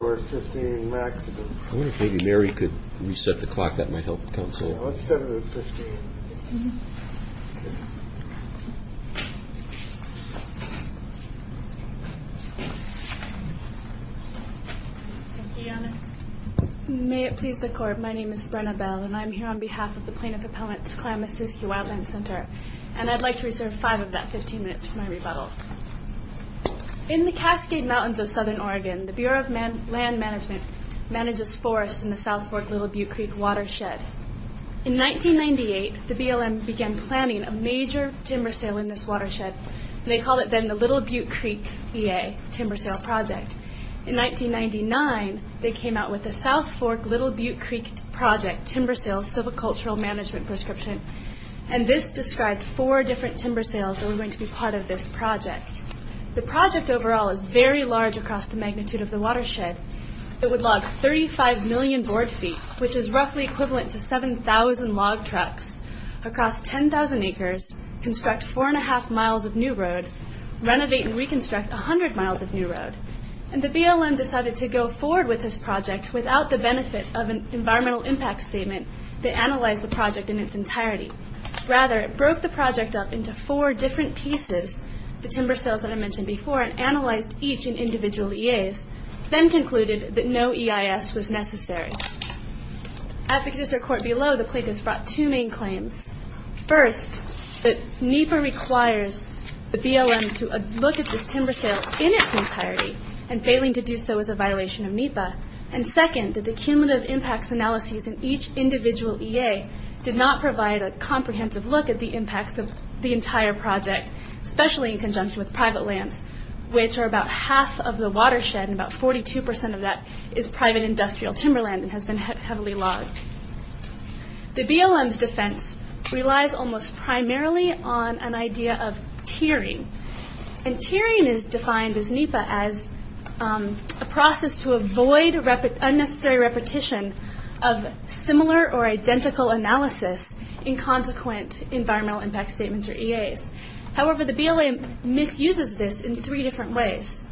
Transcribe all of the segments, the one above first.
May it please the Court, my name is Brenna Bell, and I'm here on behalf of the Plaintiff Appellant's Klamath-Syskiyou Wildlands Center, and I'd like to reserve 5 of that 15 minutes for my rebuttal. In the Cascade Mountains of Southern Oregon, the Bureau of Land Management manages forests in the South Fork Little Butte Creek Watershed. In 1998, the BLM began planning a major timber sale in this watershed, and they called it then the Little Butte Creek VA Timber Sale Project. In 1999, they came out with the South Fork Little Butte Creek Project Timber Sale Civil Cultural Management Prescription, and this described four different timber sales that were going to be part of this project. The project overall is very large across the magnitude of the watershed. It would log 35 million board feet, which is roughly equivalent to 7,000 log trucks across 10,000 acres, construct 4.5 miles of new road, renovate and reconstruct 100 miles of new road. The BLM decided to go forward with this project without the benefit of an environmental impact statement to analyze the project in its entirety. Rather, it broke the project up into four different pieces, the timber sales that I mentioned before, and analyzed each in individual EAs, then concluded that no EIS was necessary. At the district court below, the plaintiffs brought two main claims. First, that NEPA requires the BLM to look at this timber sale in its entirety, and failing to do so is a violation of NEPA. Second, that the cumulative impacts analyses in each individual EA did not provide a comprehensive look at the impacts of the entire project, especially in conjunction with private lands, which are about half of the watershed, and about 42% of that is private industrial timberland and has been heavily logged. The BLM's defense relies almost primarily on an idea of tiering. Tiering is defined as NEPA as a process to avoid unnecessary repetition of similar or identical analysis in consequent environmental impact statements or EAs. However, the BLM misuses this in three different ways.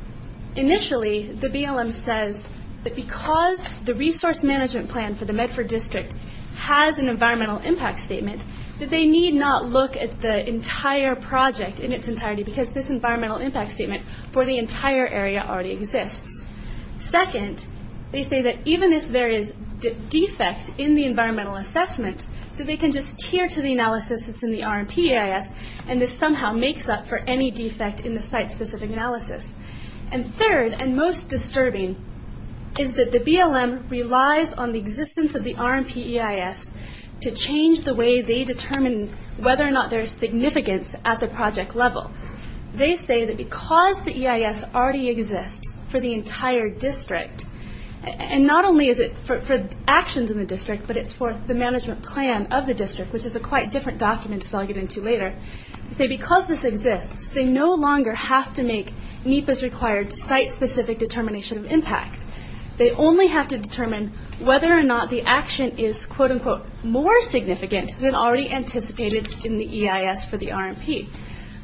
Initially, the BLM says that because the resource management plan for the Medford district has an environmental impact statement, that they need not look at the entire project in its entirety because this environmental impact statement for the entire area already exists. Second, they say that even if there is defect in the environmental assessment, that they can just tier to the analysis that's in the RMP EIS, and this somehow makes up for any defect in the site-specific analysis. Third, and most disturbing, is that the BLM relies on the existence of the RMP EIS to change the way they determine whether or not there is significance at the project level. They say that because the EIS already exists for the entire district, and not only is it for actions in the district, but it's for the management plan of the district, which is a quite different document, which I'll get into later. They say because this exists, they no longer have to make NEPA's required site-specific determination of impact. They only have to determine whether or not the action is, quote-unquote, more significant than already anticipated in the EIS for the RMP.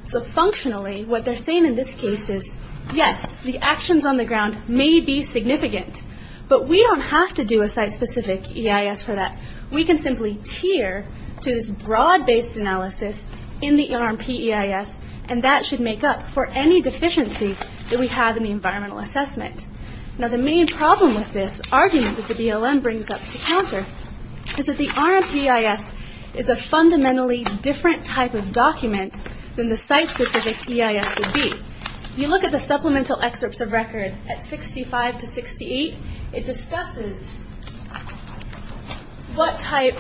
So functionally, what they're saying in this case is, yes, the actions on the ground may be significant, but we don't have to do a site-specific EIS for that. We can simply tier to this broad-based analysis in the RMP EIS, and that should make up for any deficiency that we have in the environmental assessment. Now, the main problem with this argument that the BLM brings up to counter is that the RMP EIS is a fundamentally different type of document than the site-specific EIS would be. If you look at the supplemental excerpts of record at 65 to 68, it discusses what type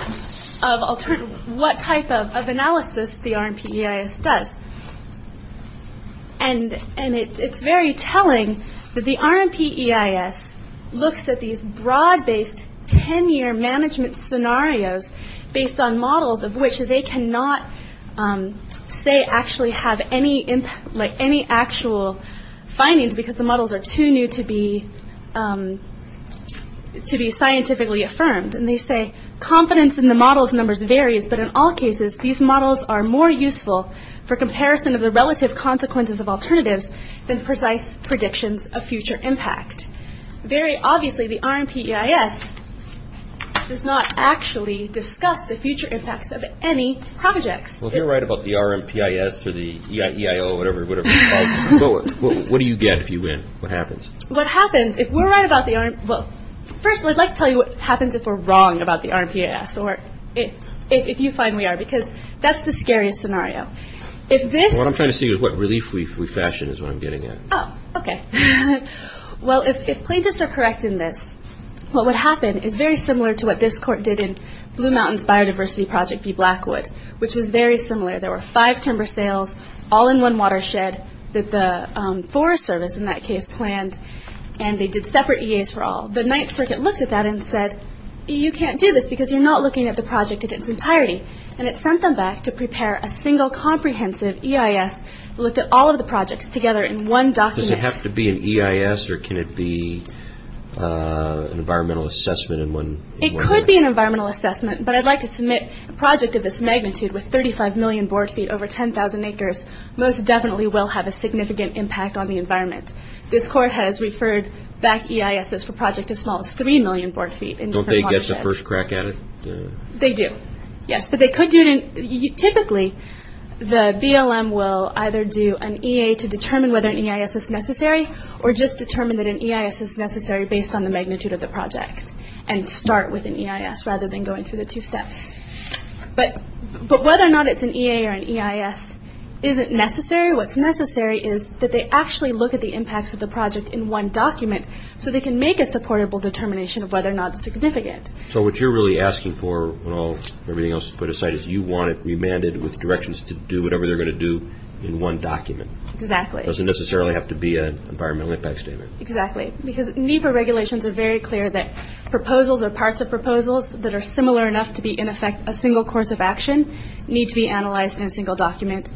of analysis the RMP EIS does, and it's very telling that the RMP EIS looks at these broad-based 10-year management scenarios based on models of which they cannot, say, actually have any actual findings because the models are too new to be scientifically affirmed. And they say, confidence in the model's numbers varies, but in all cases, these models are more useful for comparison of the relative consequences of alternatives than precise predictions of future impact. Very obviously, the RMP EIS does not actually discuss the future impacts of any projects. Well, if you're right about the RMP EIS or the EIO or whatever, what do you get if you win? What happens? What happens if we're right about the RMP – well, first, I'd like to tell you what happens if we're wrong about the RMP EIS, or if you find we are, because that's the scariest scenario. What I'm trying to say is what relief we fashion is what I'm getting at. Oh, okay. Well, if plaintiffs are correct in this, what would happen is very similar to what this court did in Blue Mountains Biodiversity Project v. Blackwood, which was very similar. There were five timber sales, all in one watershed that the Forest Service in that case planned, and they did separate EAs for all. The Ninth Circuit looked at that and said, you can't do this because you're not looking at the project in its entirety. And it sent them back to prepare a single comprehensive EIS that looked at all of the projects together in one document. Does it have to be an EIS, or can it be an environmental assessment in one? It could be an environmental assessment, but I'd like to submit a project of this magnitude with 35 million board feet over 10,000 acres most definitely will have a significant impact on the environment. This court has referred back EISs for projects as small as 3 million board feet in different watersheds. Don't they get the first crack at it? They do, yes. Typically, the BLM will either do an EA to determine whether an EIS is necessary, or just determine that an EIS is necessary based on the magnitude of the project, and start with an EIS rather than going through the two steps. But whether or not it's an EA or an EIS isn't necessary. What's necessary is that they actually look at the impacts of the project in one document, so they can make a supportable determination of whether or not it's significant. So what you're really asking for, when everything else is put aside, is you want it remanded with directions to do whatever they're going to do in one document. Exactly. It doesn't necessarily have to be an environmental impact statement. Exactly, because NEPA regulations are very clear that proposals or parts of proposals that are similar enough to be in effect a single course of action need to be analyzed in a single document,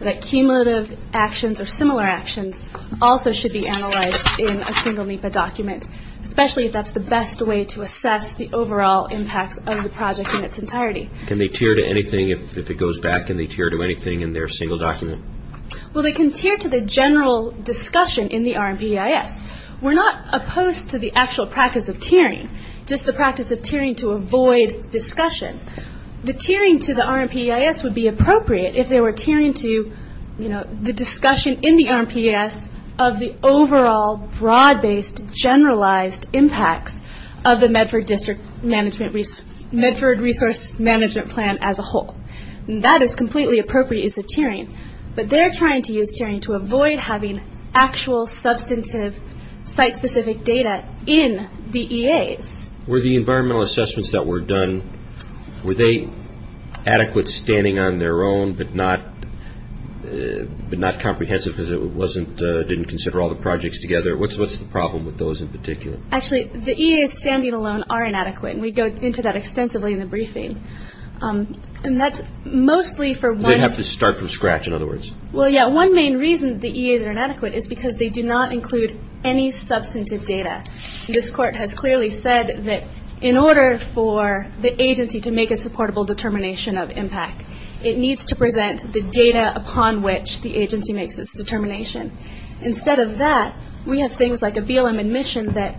that cumulative actions or similar actions also should be analyzed in a single NEPA document, especially if that's the best way to assess the overall impacts of the project in its entirety. Can they tier to anything if it goes back? Can they tier to anything in their single document? Well, they can tier to the general discussion in the RMP EIS. We're not opposed to the actual practice of tiering, just the practice of tiering to avoid discussion. The tiering to the RMP EIS would be appropriate if they were tiering to, you know, the discussion in the RMP EIS of the overall broad-based generalized impacts of the Medford Resource Management Plan as a whole. That is completely appropriate use of tiering, but they're trying to use tiering to avoid having actual substantive site-specific data in the EAs. Were the environmental assessments that were done, were they adequate standing on their own but not comprehensive because it wasn't, didn't consider all the projects together? What's the problem with those in particular? Actually, the EAs standing alone are inadequate, and we go into that extensively in the briefing. And that's mostly for one. They have to start from scratch, in other words. Well, yeah, one main reason the EAs are inadequate is because they do not include any substantive data. This court has clearly said that in order for the agency to make a supportable determination of impact, it needs to present the data upon which the agency makes its determination. Instead of that, we have things like a BLM admission that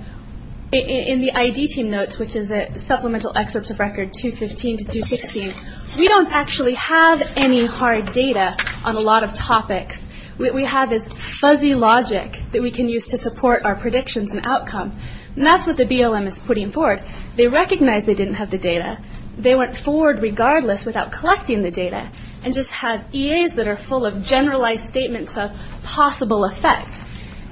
in the ID team notes, which is a supplemental excerpt of record 215 to 216, we don't actually have any hard data on a lot of topics. We have this fuzzy logic that we can use to support our predictions and outcome. And that's what the BLM is putting forward. They recognize they didn't have the data. They went forward regardless without collecting the data and just had EAs that are full of generalized statements of possible effect.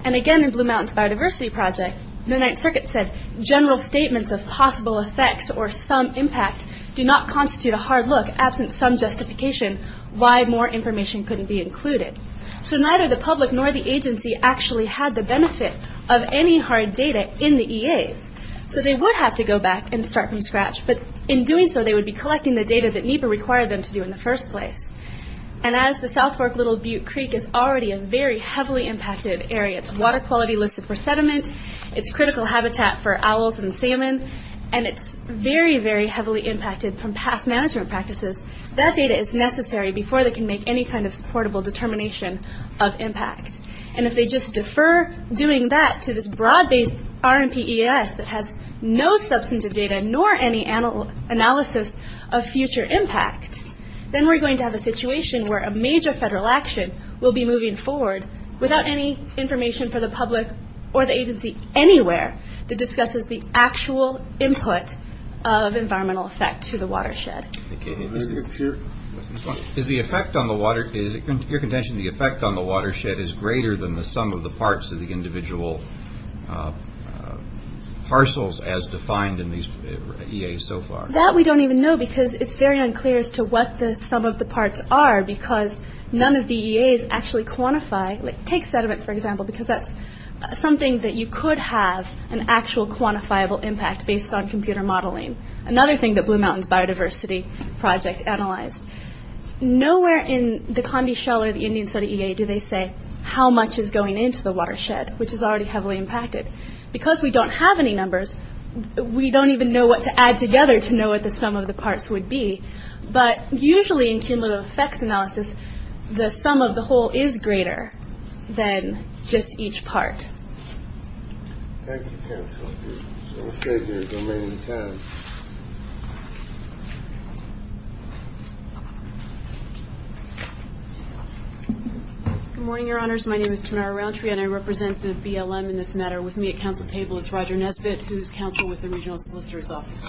And again, in Blue Mountain's biodiversity project, the Ninth Circuit said, general statements of possible effect or some impact do not constitute a hard look, absent some justification why more information couldn't be included. So neither the public nor the agency actually had the benefit of any hard data in the EAs. So they would have to go back and start from scratch. But in doing so, they would be collecting the data that NEPA required them to do in the first place. And as the South Fork Little Butte Creek is already a very heavily impacted area. It's water quality listed for sediment. It's critical habitat for owls and salmon. And it's very, very heavily impacted from past management practices. That data is necessary before they can make any kind of supportable determination of impact. And if they just defer doing that to this broad-based RMPES that has no substantive data nor any analysis of future impact, then we're going to have a situation where a major federal action will be moving forward without any information for the public or the agency anywhere that discusses the actual input of environmental effect to the watershed. Is the effect on the watershed greater than the sum of the parts of the individual parcels as defined in these EAs so far? That we don't even know because it's very unclear as to what the sum of the parts are because none of the EAs actually quantify. Take sediment, for example, because that's something that you could have an actual quantifiable impact based on computer modeling. Another thing that Blue Mountains Biodiversity Project analyzed. Nowhere in the Conde Shell or the Indian study EA do they say how much is going into the watershed, which is already heavily impacted. Because we don't have any numbers, we don't even know what to add together to know what the sum of the parts would be. But usually in cumulative effects analysis, the sum of the whole is greater than just each part. Thank you, counsel. We'll stay here as long as we can. Good morning, Your Honors. My name is Tamara Roundtree, and I represent the BLM in this matter. With me at counsel table is Roger Nesbitt, who is counsel with the Regional Solicitor's Office.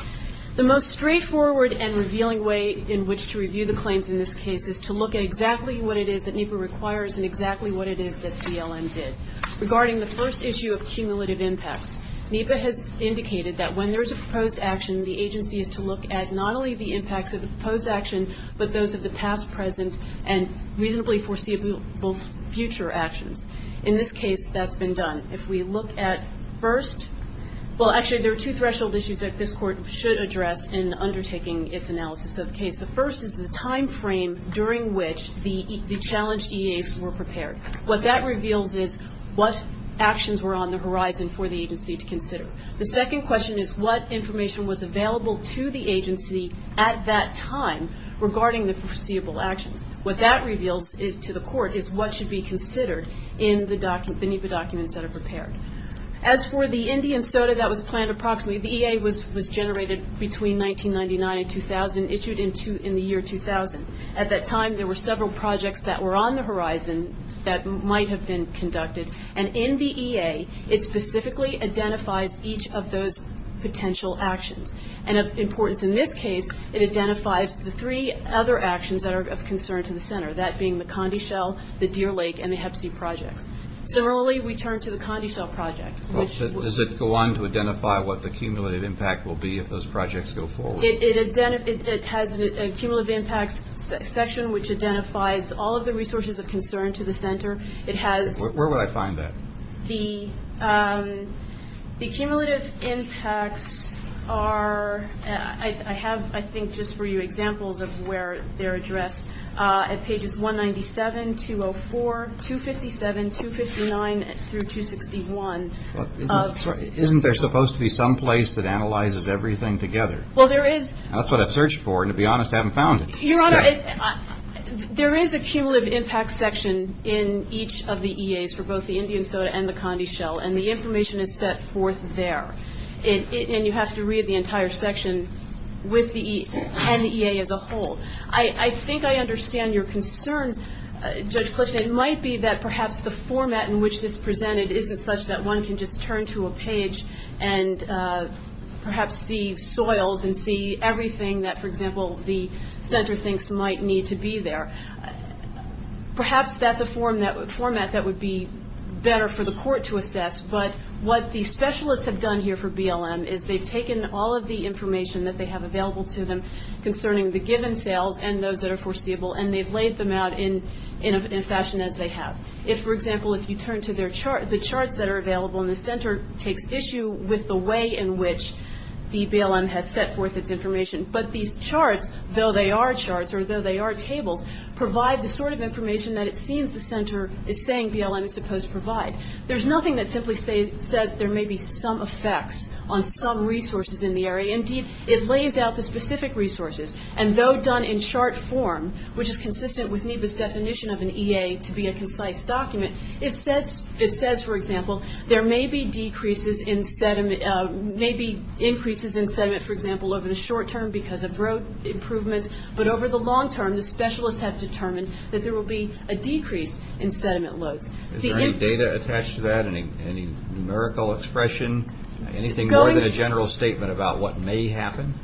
The most straightforward and revealing way in which to review the claims in this case is to look at exactly what it is that NEPA requires and exactly what it is that BLM did. Regarding the first issue of cumulative impacts, NEPA has indicated that when there is a proposed action, the agency is to look at not only the impacts of the proposed action, but those of the past, present, and reasonably foreseeable future actions. In this case, that's been done. If we look at first, well, actually, there are two threshold issues that this Court should address in undertaking its analysis of the case. The first is the timeframe during which the challenged EAs were prepared. What that reveals is what actions were on the horizon for the agency to consider. The second question is what information was available to the agency at that time regarding the foreseeable actions. What that reveals to the Court is what should be considered in the NEPA documents that are prepared. As for the Indian soda that was planned approximately, the EA was generated between 1999 and 2000, issued in the year 2000. At that time, there were several projects that were on the horizon that might have been conducted. And in the EA, it specifically identifies each of those potential actions. And of importance in this case, it identifies the three other actions that are of concern to the Center, that being the Condeshell, the Deer Lake, and the Hep C projects. Similarly, we turn to the Condeshell project. Does it go on to identify what the cumulative impact will be if those projects go forward? It has a cumulative impacts section, which identifies all of the resources of concern to the Center. Where would I find that? The cumulative impacts are, I have, I think, just for you examples of where they're addressed. At pages 197, 204, 257, 259, through 261. Isn't there supposed to be some place that analyzes everything together? Well, there is. That's what I've searched for, and to be honest, I haven't found it. Your Honor, there is a cumulative impacts section in each of the EAs for both the Indian Soda and the Condeshell, and the information is set forth there. And you have to read the entire section and the EA as a whole. I think I understand your concern, Judge Clifton. It might be that perhaps the format in which this is presented isn't such that one can just turn to a page and perhaps see soils and see everything that, for example, the Center thinks might need to be there. Perhaps that's a format that would be better for the court to assess, but what the specialists have done here for BLM is they've taken all of the information that they have available to them concerning the given sales and those that are foreseeable, and they've laid them out in a fashion as they have. If, for example, if you turn to the charts that are available, and the Center takes issue with the way in which the BLM has set forth its information, but these charts, though they are charts or though they are tables, provide the sort of information that it seems the Center is saying BLM is supposed to provide. There's nothing that simply says there may be some effects on some resources in the area. Indeed, it lays out the specific resources, and though done in chart form, which is consistent with NEBA's definition of an EA to be a concise document, it says, for example, there may be increases in sediment, for example, over the short term because of road improvements, but over the long term, the specialists have determined that there will be a decrease in sediment loads. Is there any data attached to that, any numerical expression, anything more than a general statement about what may happen?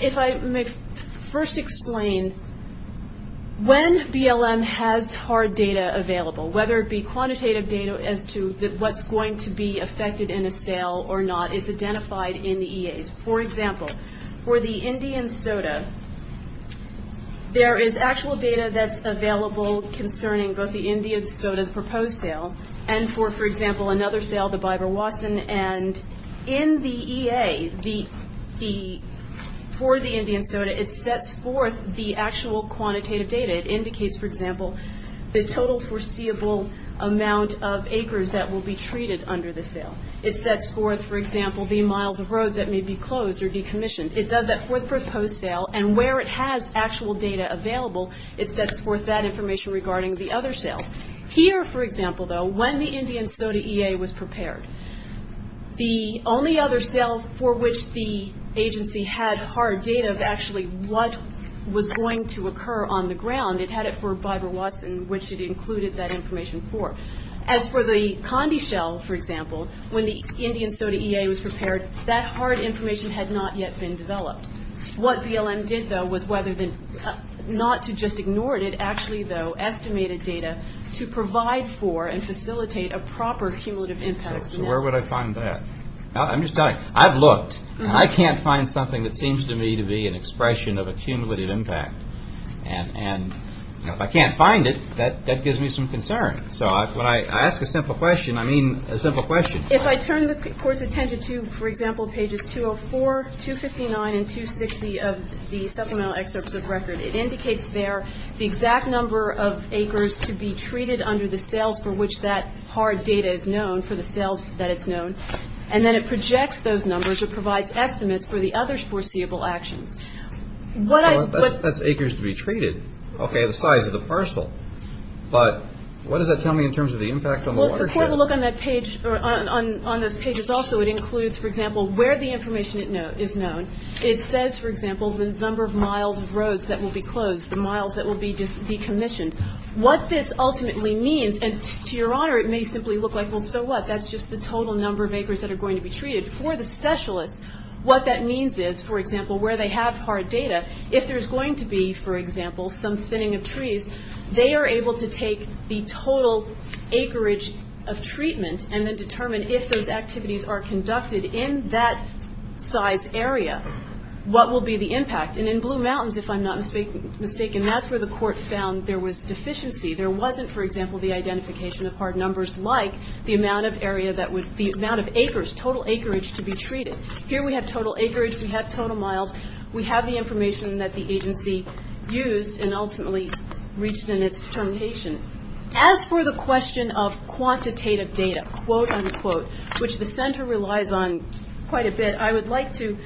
If I may first explain, when BLM has hard data available, whether it be quantitative data as to what's going to be affected in a sale or not, it's identified in the EAs. For example, for the Indian soda, there is actual data that's available concerning both the Indian soda proposed sale and for, for example, another sale, the Biber-Watson, and in the EA, for the Indian soda, it sets forth the actual quantitative data. It indicates, for example, the total foreseeable amount of acres that will be treated under the sale. It sets forth, for example, the miles of roads that may be closed or decommissioned. It does that for the proposed sale, and where it has actual data available, it sets forth that information regarding the other sales. Here, for example, though, when the Indian soda EA was prepared, the only other sale for which the agency had hard data of actually what was going to occur on the ground, it had it for Biber-Watson, which it included that information for. As for the Condeshell, for example, when the Indian soda EA was prepared, that hard information had not yet been developed. What BLM did, though, was whether, not to just ignore it, it actually, though, estimated data to provide for and facilitate a proper cumulative impact. So where would I find that? I'm just telling you, I've looked, and I can't find something that seems to me to be an expression of a cumulative impact. And if I can't find it, that gives me some concern. So when I ask a simple question, I mean a simple question. If I turn the Court's attention to, for example, pages 204, 259, and 260 of the Supplemental Excerpts of Record, it indicates there the exact number of acres to be treated under the sales for which that hard data is known, for the sales that it's known. And then it projects those numbers or provides estimates for the other foreseeable actions. What I --- Well, that's acres to be treated. Okay. The size of the parcel. But what does that tell me in terms of the impact on the watershed? Well, it's important to look on that page or on those pages also. It includes, for example, where the information is known. It says, for example, the number of miles of roads that will be closed, the miles that will be decommissioned. What this ultimately means, and to your honor, it may simply look like, well, so what? That's just the total number of acres that are going to be treated. For the specialists, what that means is, for example, where they have hard data, if there's going to be, for example, some thinning of trees, they are able to take the total acreage of treatment and then determine if those activities are conducted in that size area, what will be the impact. And in Blue Mountains, if I'm not mistaken, that's where the court found there was deficiency. There wasn't, for example, the identification of hard numbers like the amount of area that would be, the amount of acres, total acreage to be treated. Here we have total acreage. We have total miles. We have the information that the agency used and ultimately reached in its determination. As for the question of quantitative data, quote, unquote, which the center relies on quite a bit, I would like to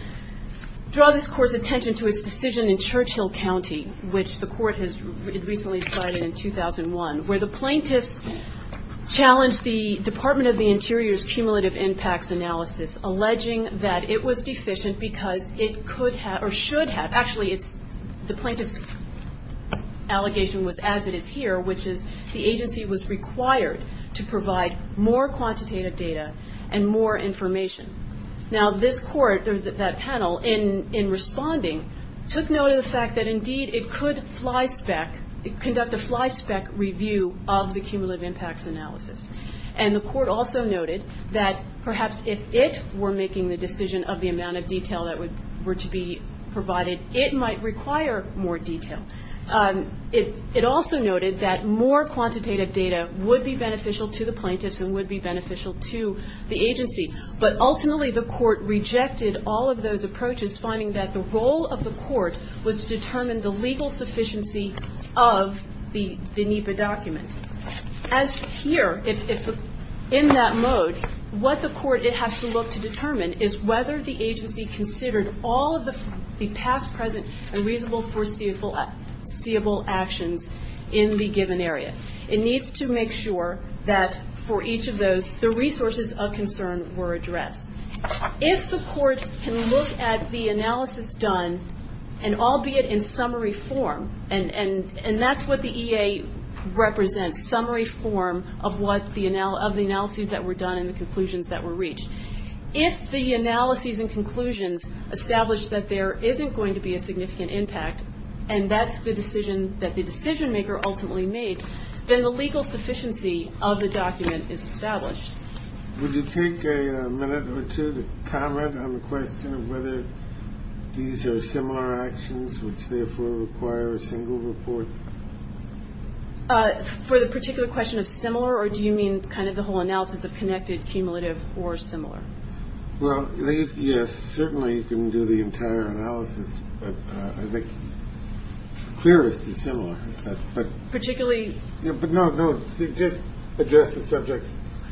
draw this court's attention to its decision in Churchill County, which the court has recently decided in 2001, where the plaintiffs challenged the Department of the Interior's cumulative impacts analysis, alleging that it was deficient because it could have or should have. Actually, the plaintiff's allegation was as it is here, which is the agency was required to provide more quantitative data and more information. Now, this court, that panel, in responding took note of the fact that indeed it could fly spec, conduct a fly spec review of the cumulative impacts analysis. And the court also noted that perhaps if it were making the decision of the amount of detail that were to be provided, it might require more detail. It also noted that more quantitative data would be beneficial to the plaintiffs and would be beneficial to the agency. But ultimately, the court rejected all of those approaches, finding that the role of the court was to determine the legal sufficiency of the NEPA document. As here, in that mode, what the court has to look to determine is whether the agency considered all of the past, present, and reasonable foreseeable actions in the given area. It needs to make sure that for each of those, the resources of concern were addressed. If the court can look at the analysis done, and albeit in summary form, and that's what the EA represents, summary form of the analyses that were done and the conclusions that were reached. If the analyses and conclusions establish that there isn't going to be a significant impact, and that's the decision that the decision maker ultimately made, then the legal sufficiency of the document is established. Would you take a minute or two to comment on the question of whether these are similar actions, which therefore require a single report? For the particular question of similar, or do you mean kind of the whole analysis of connected, cumulative, or similar? Well, yes, certainly you can do the entire analysis, but I think clearest is similar. Particularly? But no, no, just address the subject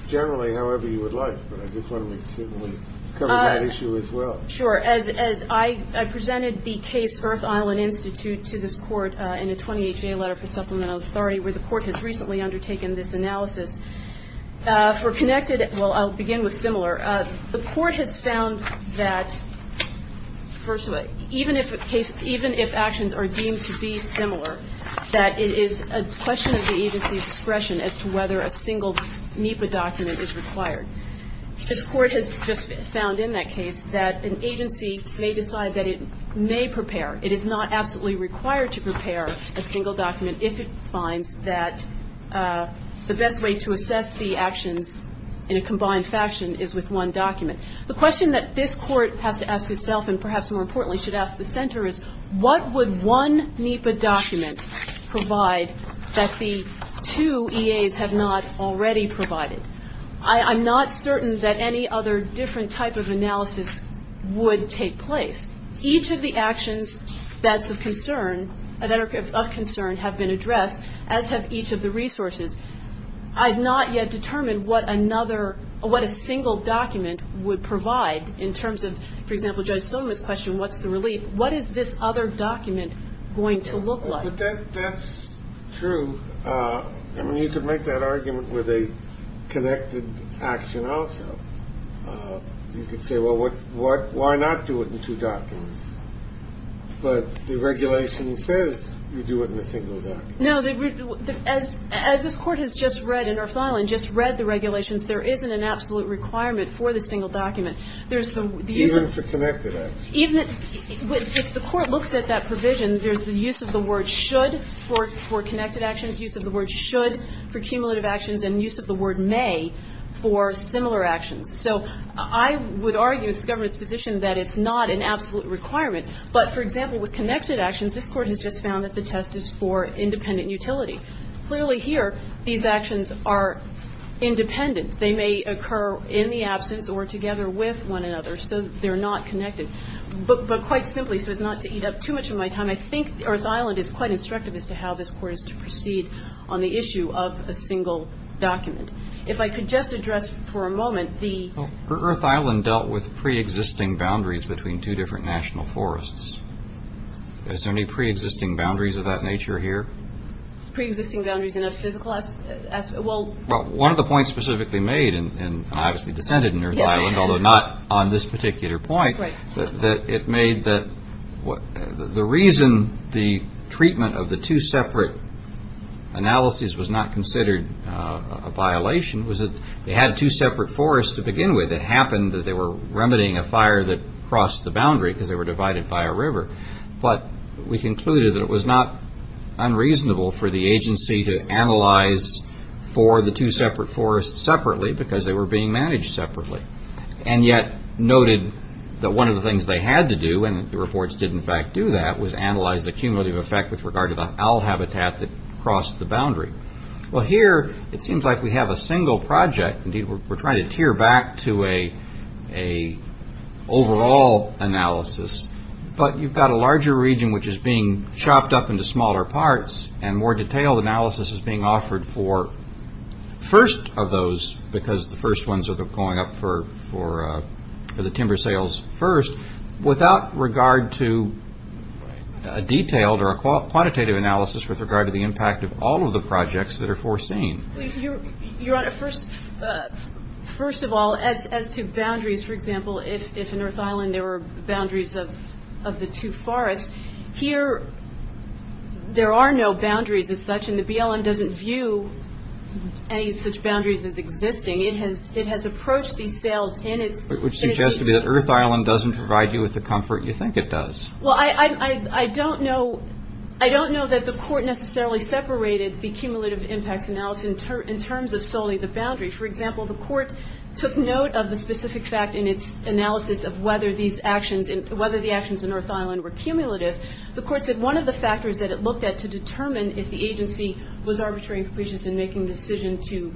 generally however you would like, but I just want to make certain we cover that issue as well. Sure. As I presented the case Earth Island Institute to this Court in a 28-J letter for supplemental authority where the Court has recently undertaken this analysis. For connected, well, I'll begin with similar. The Court has found that, first of all, even if actions are deemed to be similar, that it is a question of the agency's discretion as to whether a single NEPA document is required. This Court has just found in that case that an agency may decide that it may prepare. It is not absolutely required to prepare a single document if it finds that the best way to assess the actions in a combined fashion is with one document. The question that this Court has to ask itself, and perhaps more importantly should ask the Center, is what would one NEPA document provide that the two EAs have not already provided? I'm not certain that any other different type of analysis would take place. Each of the actions that's of concern have been addressed, as have each of the resources. I have not yet determined what a single document would provide in terms of, for example, Judge Sotomayor's question, what's the relief? What is this other document going to look like? That's true. I mean, you could make that argument with a connected action also. You could say, well, why not do it in two documents? But the regulation says you do it in a single document. No. As this Court has just read in our filing, just read the regulations, there isn't an absolute requirement for the single document. Even for connected actions? Even if the Court looks at that provision, there's the use of the word should for connected actions, use of the word should for cumulative actions, and use of the word may for similar actions. So I would argue it's the government's position that it's not an absolute requirement. But, for example, with connected actions, this Court has just found that the test is for independent utility. Clearly here, these actions are independent. They may occur in the absence or together with one another, so they're not connected. But quite simply, so as not to eat up too much of my time, I think Earth Island is quite instructive as to how this Court is to proceed on the issue of a single document. If I could just address for a moment the – Earth Island dealt with preexisting boundaries between two different national forests. Is there any preexisting boundaries of that nature here? Preexisting boundaries in a physical – well – Well, one of the points specifically made, and I obviously dissented in Earth Island, although not on this particular point, that it made that – the reason the treatment of the two separate analyses was not considered a violation was that they had two separate forests to begin with. It happened that they were remedying a fire that crossed the boundary because they were divided by a river. But we concluded that it was not unreasonable for the agency to analyze for the two separate forests separately because they were being managed separately. And yet noted that one of the things they had to do, and the reports did in fact do that, was analyze the cumulative effect with regard to the owl habitat that crossed the boundary. Well, here it seems like we have a single project. Indeed, we're trying to tear back to an overall analysis, but you've got a larger region which is being chopped up into smaller parts and more detailed analysis is being offered for first of those because the first ones are going up for the timber sales first, without regard to a detailed or a quantitative analysis with regard to the impact of all of the projects that are foreseen. Your Honor, first of all, as to boundaries, for example, if in Earth Island there were boundaries of the two forests, here there are no boundaries as such and the BLM doesn't view any such boundaries as existing. It has approached these sales in its... Which suggests to me that Earth Island doesn't provide you with the comfort you think it does. Well, I don't know that the court necessarily separated the cumulative impacts analysis in terms of solely the boundary. For example, the court took note of the specific fact in its analysis of whether the actions in Earth Island were cumulative. The court said one of the factors that it looked at to determine if the agency was arbitrary and capricious in making the decision to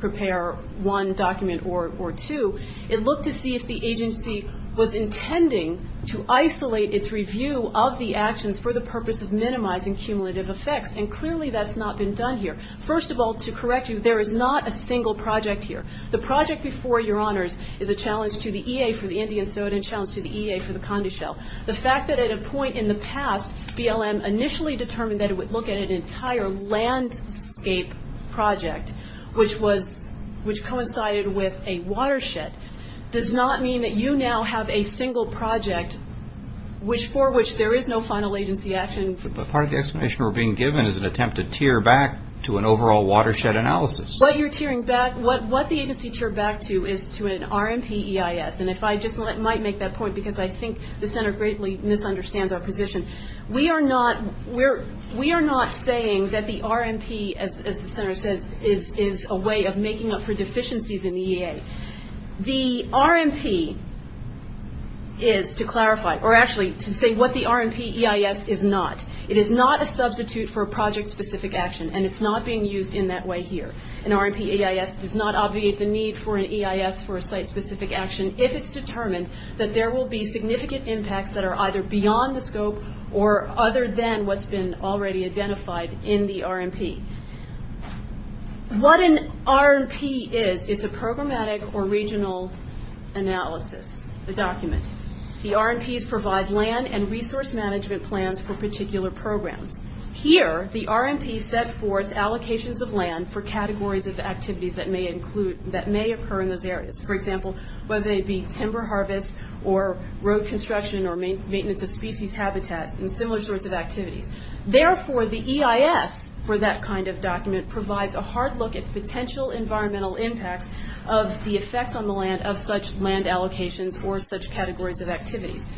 prepare one document or two, it looked to see if the agency was intending to isolate its review of the actions for the purpose of minimizing cumulative effects and clearly that's not been done here. First of all, to correct you, there is not a single project here. The project before your honors is a challenge to the EA for the Indian soil and a challenge to the EA for the condo shell. The fact that at a point in the past BLM initially determined that it would look at an entire landscape project which coincided with a watershed does not mean that you now have a single project for which there is no final agency action. But part of the explanation we're being given is an attempt to tear back to an overall watershed analysis. What the agency teared back to is to an RMP EIS and if I just might make that point because I think the center greatly misunderstands our position. We are not saying that the RMP as the center says is a way of making up for deficiencies in the EA. The RMP is to clarify or actually to say what the RMP EIS is not. It is not a substitute for a project specific action and it's not being used in that way here. An RMP EIS does not obviate the need for an EIS for a site specific action if it's determined that there will be significant impacts that are either beyond the scope or other than what's been already identified in the RMP. What an RMP is, it's a programmatic or regional analysis, a document. The RMPs provide land and resource management plans for particular programs. Here, the RMP set forth allocations of land for categories of activities that may occur in those areas. For example, whether they be timber harvest or road construction or maintenance of species habitat and similar sorts of activities. Therefore, the EIS for that kind of document provides a hard look at potential environmental impacts of the effects on the land of such land allocations or such categories of activities.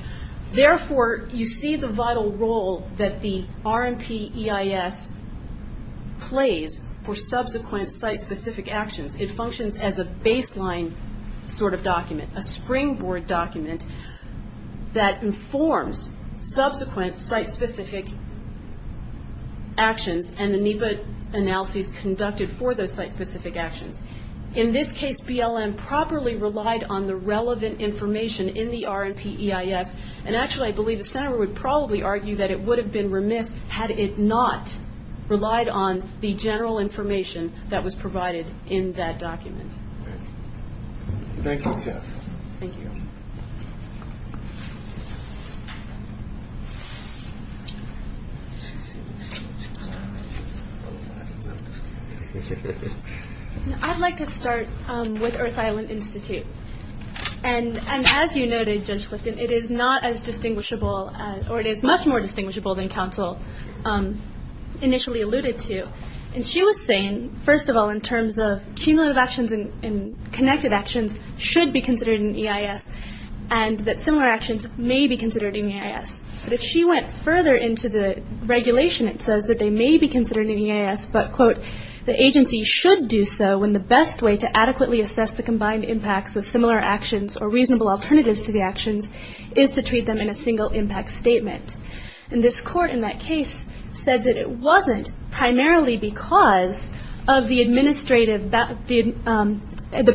Therefore, you see the vital role that the RMP EIS plays for subsequent site specific actions. It functions as a baseline sort of document, a springboard document that informs subsequent site specific actions and the NEPA analyses conducted for those site specific actions. In this case, BLM properly relied on the relevant information in the RMP EIS. Actually, I believe the Senator would probably argue that it would have been remiss had it not relied on the general information that was provided in that document. Thank you, Jess. I'd like to start with Earth Island Institute. As you noted, Judge Clifton, it is not as distinguishable, or it is much more distinguishable than counsel initially alluded to. She was saying, first of all, in terms of cumulative actions and connected actions should be considered in EIS and that similar actions may be considered in EIS. If she went further into the regulation, it says that they may be considered in EIS, but, quote, the agency should do so when the best way to adequately assess the combined impacts of similar actions or reasonable alternatives to the actions is to treat them in a single impact statement. And this court in that case said that it wasn't primarily because of the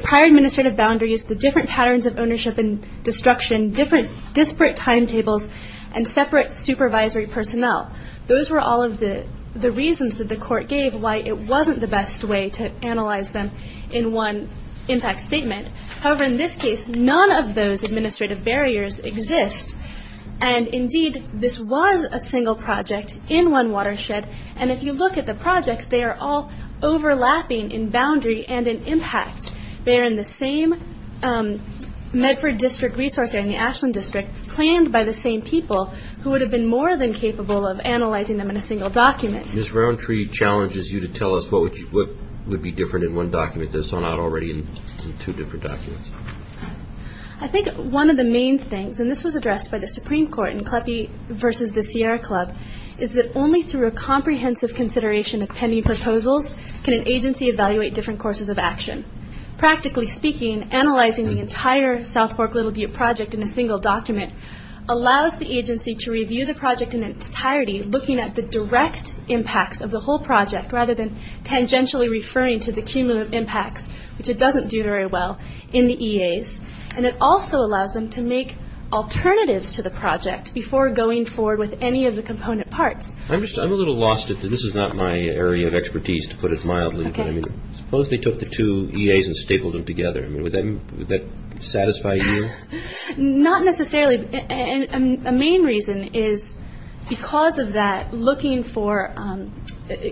prior administrative boundaries, the different patterns of ownership and destruction, different disparate timetables and separate supervisory personnel. Those were all of the reasons that the court gave why it wasn't the best way to analyze them in one impact statement. However, in this case, none of those administrative barriers exist, and, indeed, this was a single project in one watershed, and if you look at the projects, they are all overlapping in boundary and in impact. They are in the same Medford District resource area, in the Ashland District, planned by the same people who would have been more than capable of analyzing them in a single document. Ms. Rowntree challenges you to tell us what would be different in one document that is not already in two different documents. I think one of the main things, and this was addressed by the Supreme Court in Kleppe v. The Sierra Club, is that only through a comprehensive consideration of pending proposals can an agency evaluate different courses of action. Practically speaking, analyzing the entire South Fork Little Butte project in a single document allows the agency to review the project in its entirety, looking at the direct impacts of the whole project rather than tangentially referring to the cumulative impacts, which it doesn't do very well, in the EAs, and it also allows them to make alternatives to the project before going forward with any of the component parts. I'm a little lost. This is not my area of expertise, to put it mildly. Suppose they took the two EAs and stapled them together. Would that satisfy you? Not necessarily. A main reason is because of that, looking for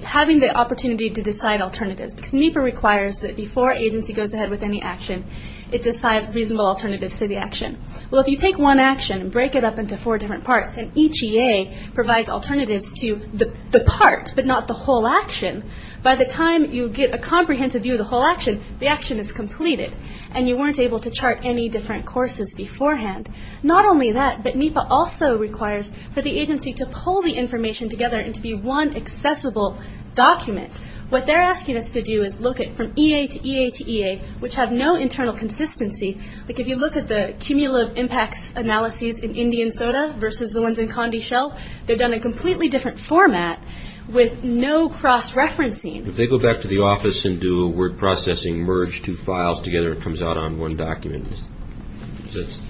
having the opportunity to decide alternatives, because NEPA requires that before an agency goes ahead with any action, it decide reasonable alternatives to the action. Well, if you take one action and break it up into four different parts, and each EA provides alternatives to the part, but not the whole action, by the time you get a comprehensive view of the whole action, the action is completed, and you weren't able to chart any different courses beforehand. Not only that, but NEPA also requires for the agency to pull the information together into one accessible document. What they're asking us to do is look at from EA to EA to EA, which have no internal consistency. Like, if you look at the cumulative impacts analyses in Indian Soda versus the ones in Condeshell, they've done a completely different format with no cross-referencing. If they go back to the office and do a word processing, merge two files together, it comes out on one document.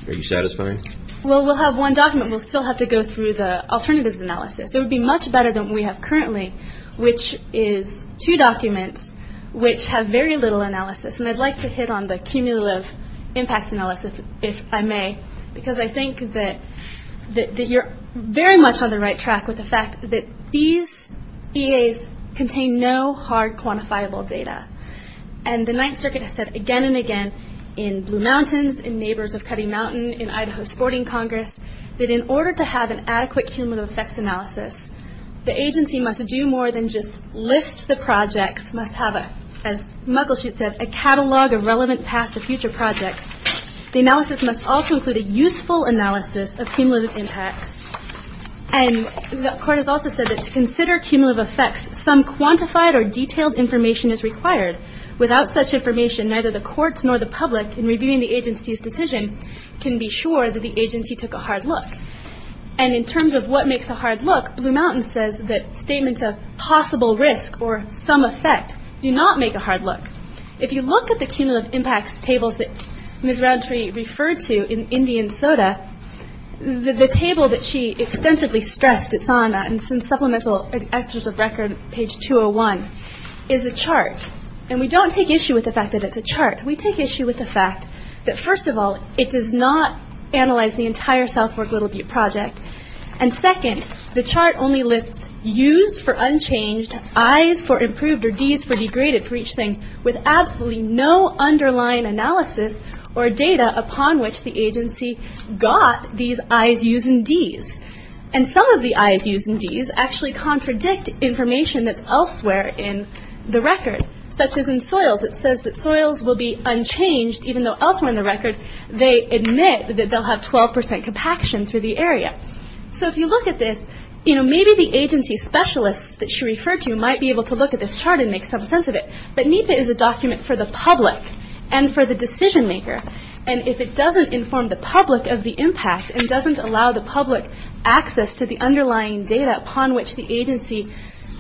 Are you satisfied? Well, we'll have one document. We'll still have to go through the alternatives analysis. It would be much better than what we have currently, which is two documents which have very little analysis. And I'd like to hit on the cumulative impacts analysis, if I may, because I think that you're very much on the right track with the fact that these EAs contain no hard quantifiable data. And the Ninth Circuit has said again and again in Blue Mountains, in Neighbors of Cutting Mountain, in Idaho Sporting Congress, that in order to have an adequate cumulative effects analysis, the agency must do more than just list the projects, must have, as Muckleshoot said, a catalog of relevant past or future projects. The analysis must also include a useful analysis of cumulative impacts. And the court has also said that to consider cumulative effects, some quantified or detailed information is required. Without such information, neither the courts nor the public, in reviewing the agency's decision, can be sure that the agency took a hard look. And in terms of what makes a hard look, Blue Mountains says that statements of possible risk or some effect do not make a hard look. If you look at the cumulative impacts tables that Ms. Rountree referred to in Indian Soda, the table that she extensively stressed, it's on some Supplemental Actors of Record, page 201, is a chart. And we don't take issue with the fact that it's a chart. We take issue with the fact that, first of all, it does not analyze the entire South Fork Little Butte project. And second, the chart only lists U's for unchanged, I's for improved, or D's for degraded for each thing, with absolutely no underlying analysis or data upon which the agency got these I's, U's, and D's. And some of the I's, U's, and D's actually contradict information that's elsewhere in the record, such as in soils. It says that soils will be unchanged even though elsewhere in the record they admit that they'll have 12% compaction through the area. So if you look at this, you know, maybe the agency specialists that she referred to might be able to look at this chart and make some sense of it. But NEPA is a document for the public and for the decision maker. And if it doesn't inform the public of the impact and doesn't allow the public access to the underlying data upon which the agency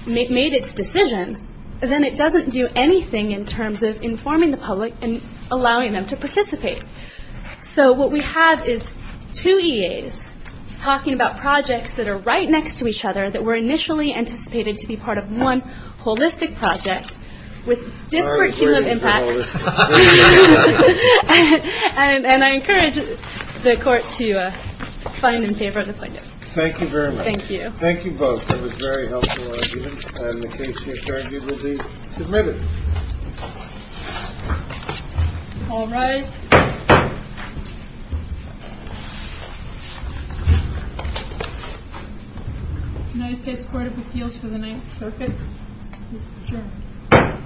made its decision, then it doesn't do anything in terms of informing the public and allowing them to participate. So what we have is two EAs talking about projects that are right next to each other that were initially anticipated to be part of one holistic project with disparate cumulative impacts. And I encourage the court to find and favor the plaintiffs. Thank you very much. Thank you. Thank you both. That was a very helpful argument. And the case to be adjourned will be submitted. All rise. Can I just ask the Court of Appeals for the next circuit? This is adjourned. Thank you. Thank you. Thank you. Thank you. Thank you. You can lock it. Are you done with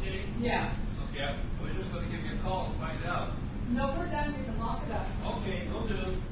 the case? Yeah. Okay. We're just going to give you a call to find out. No, we're done. We can lock it up. Okay. No problem.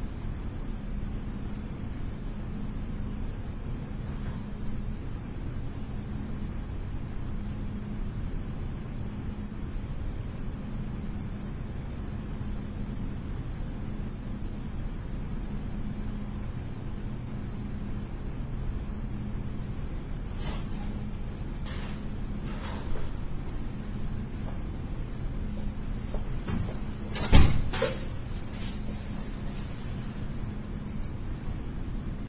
Thank you. Thank you. Thank you. Thank you. Thank you. Thank you. Thank you. Thank you. Thank you. Thank you. Thank you. Thank you. Thank you. Thank you. Thank you. Thank you.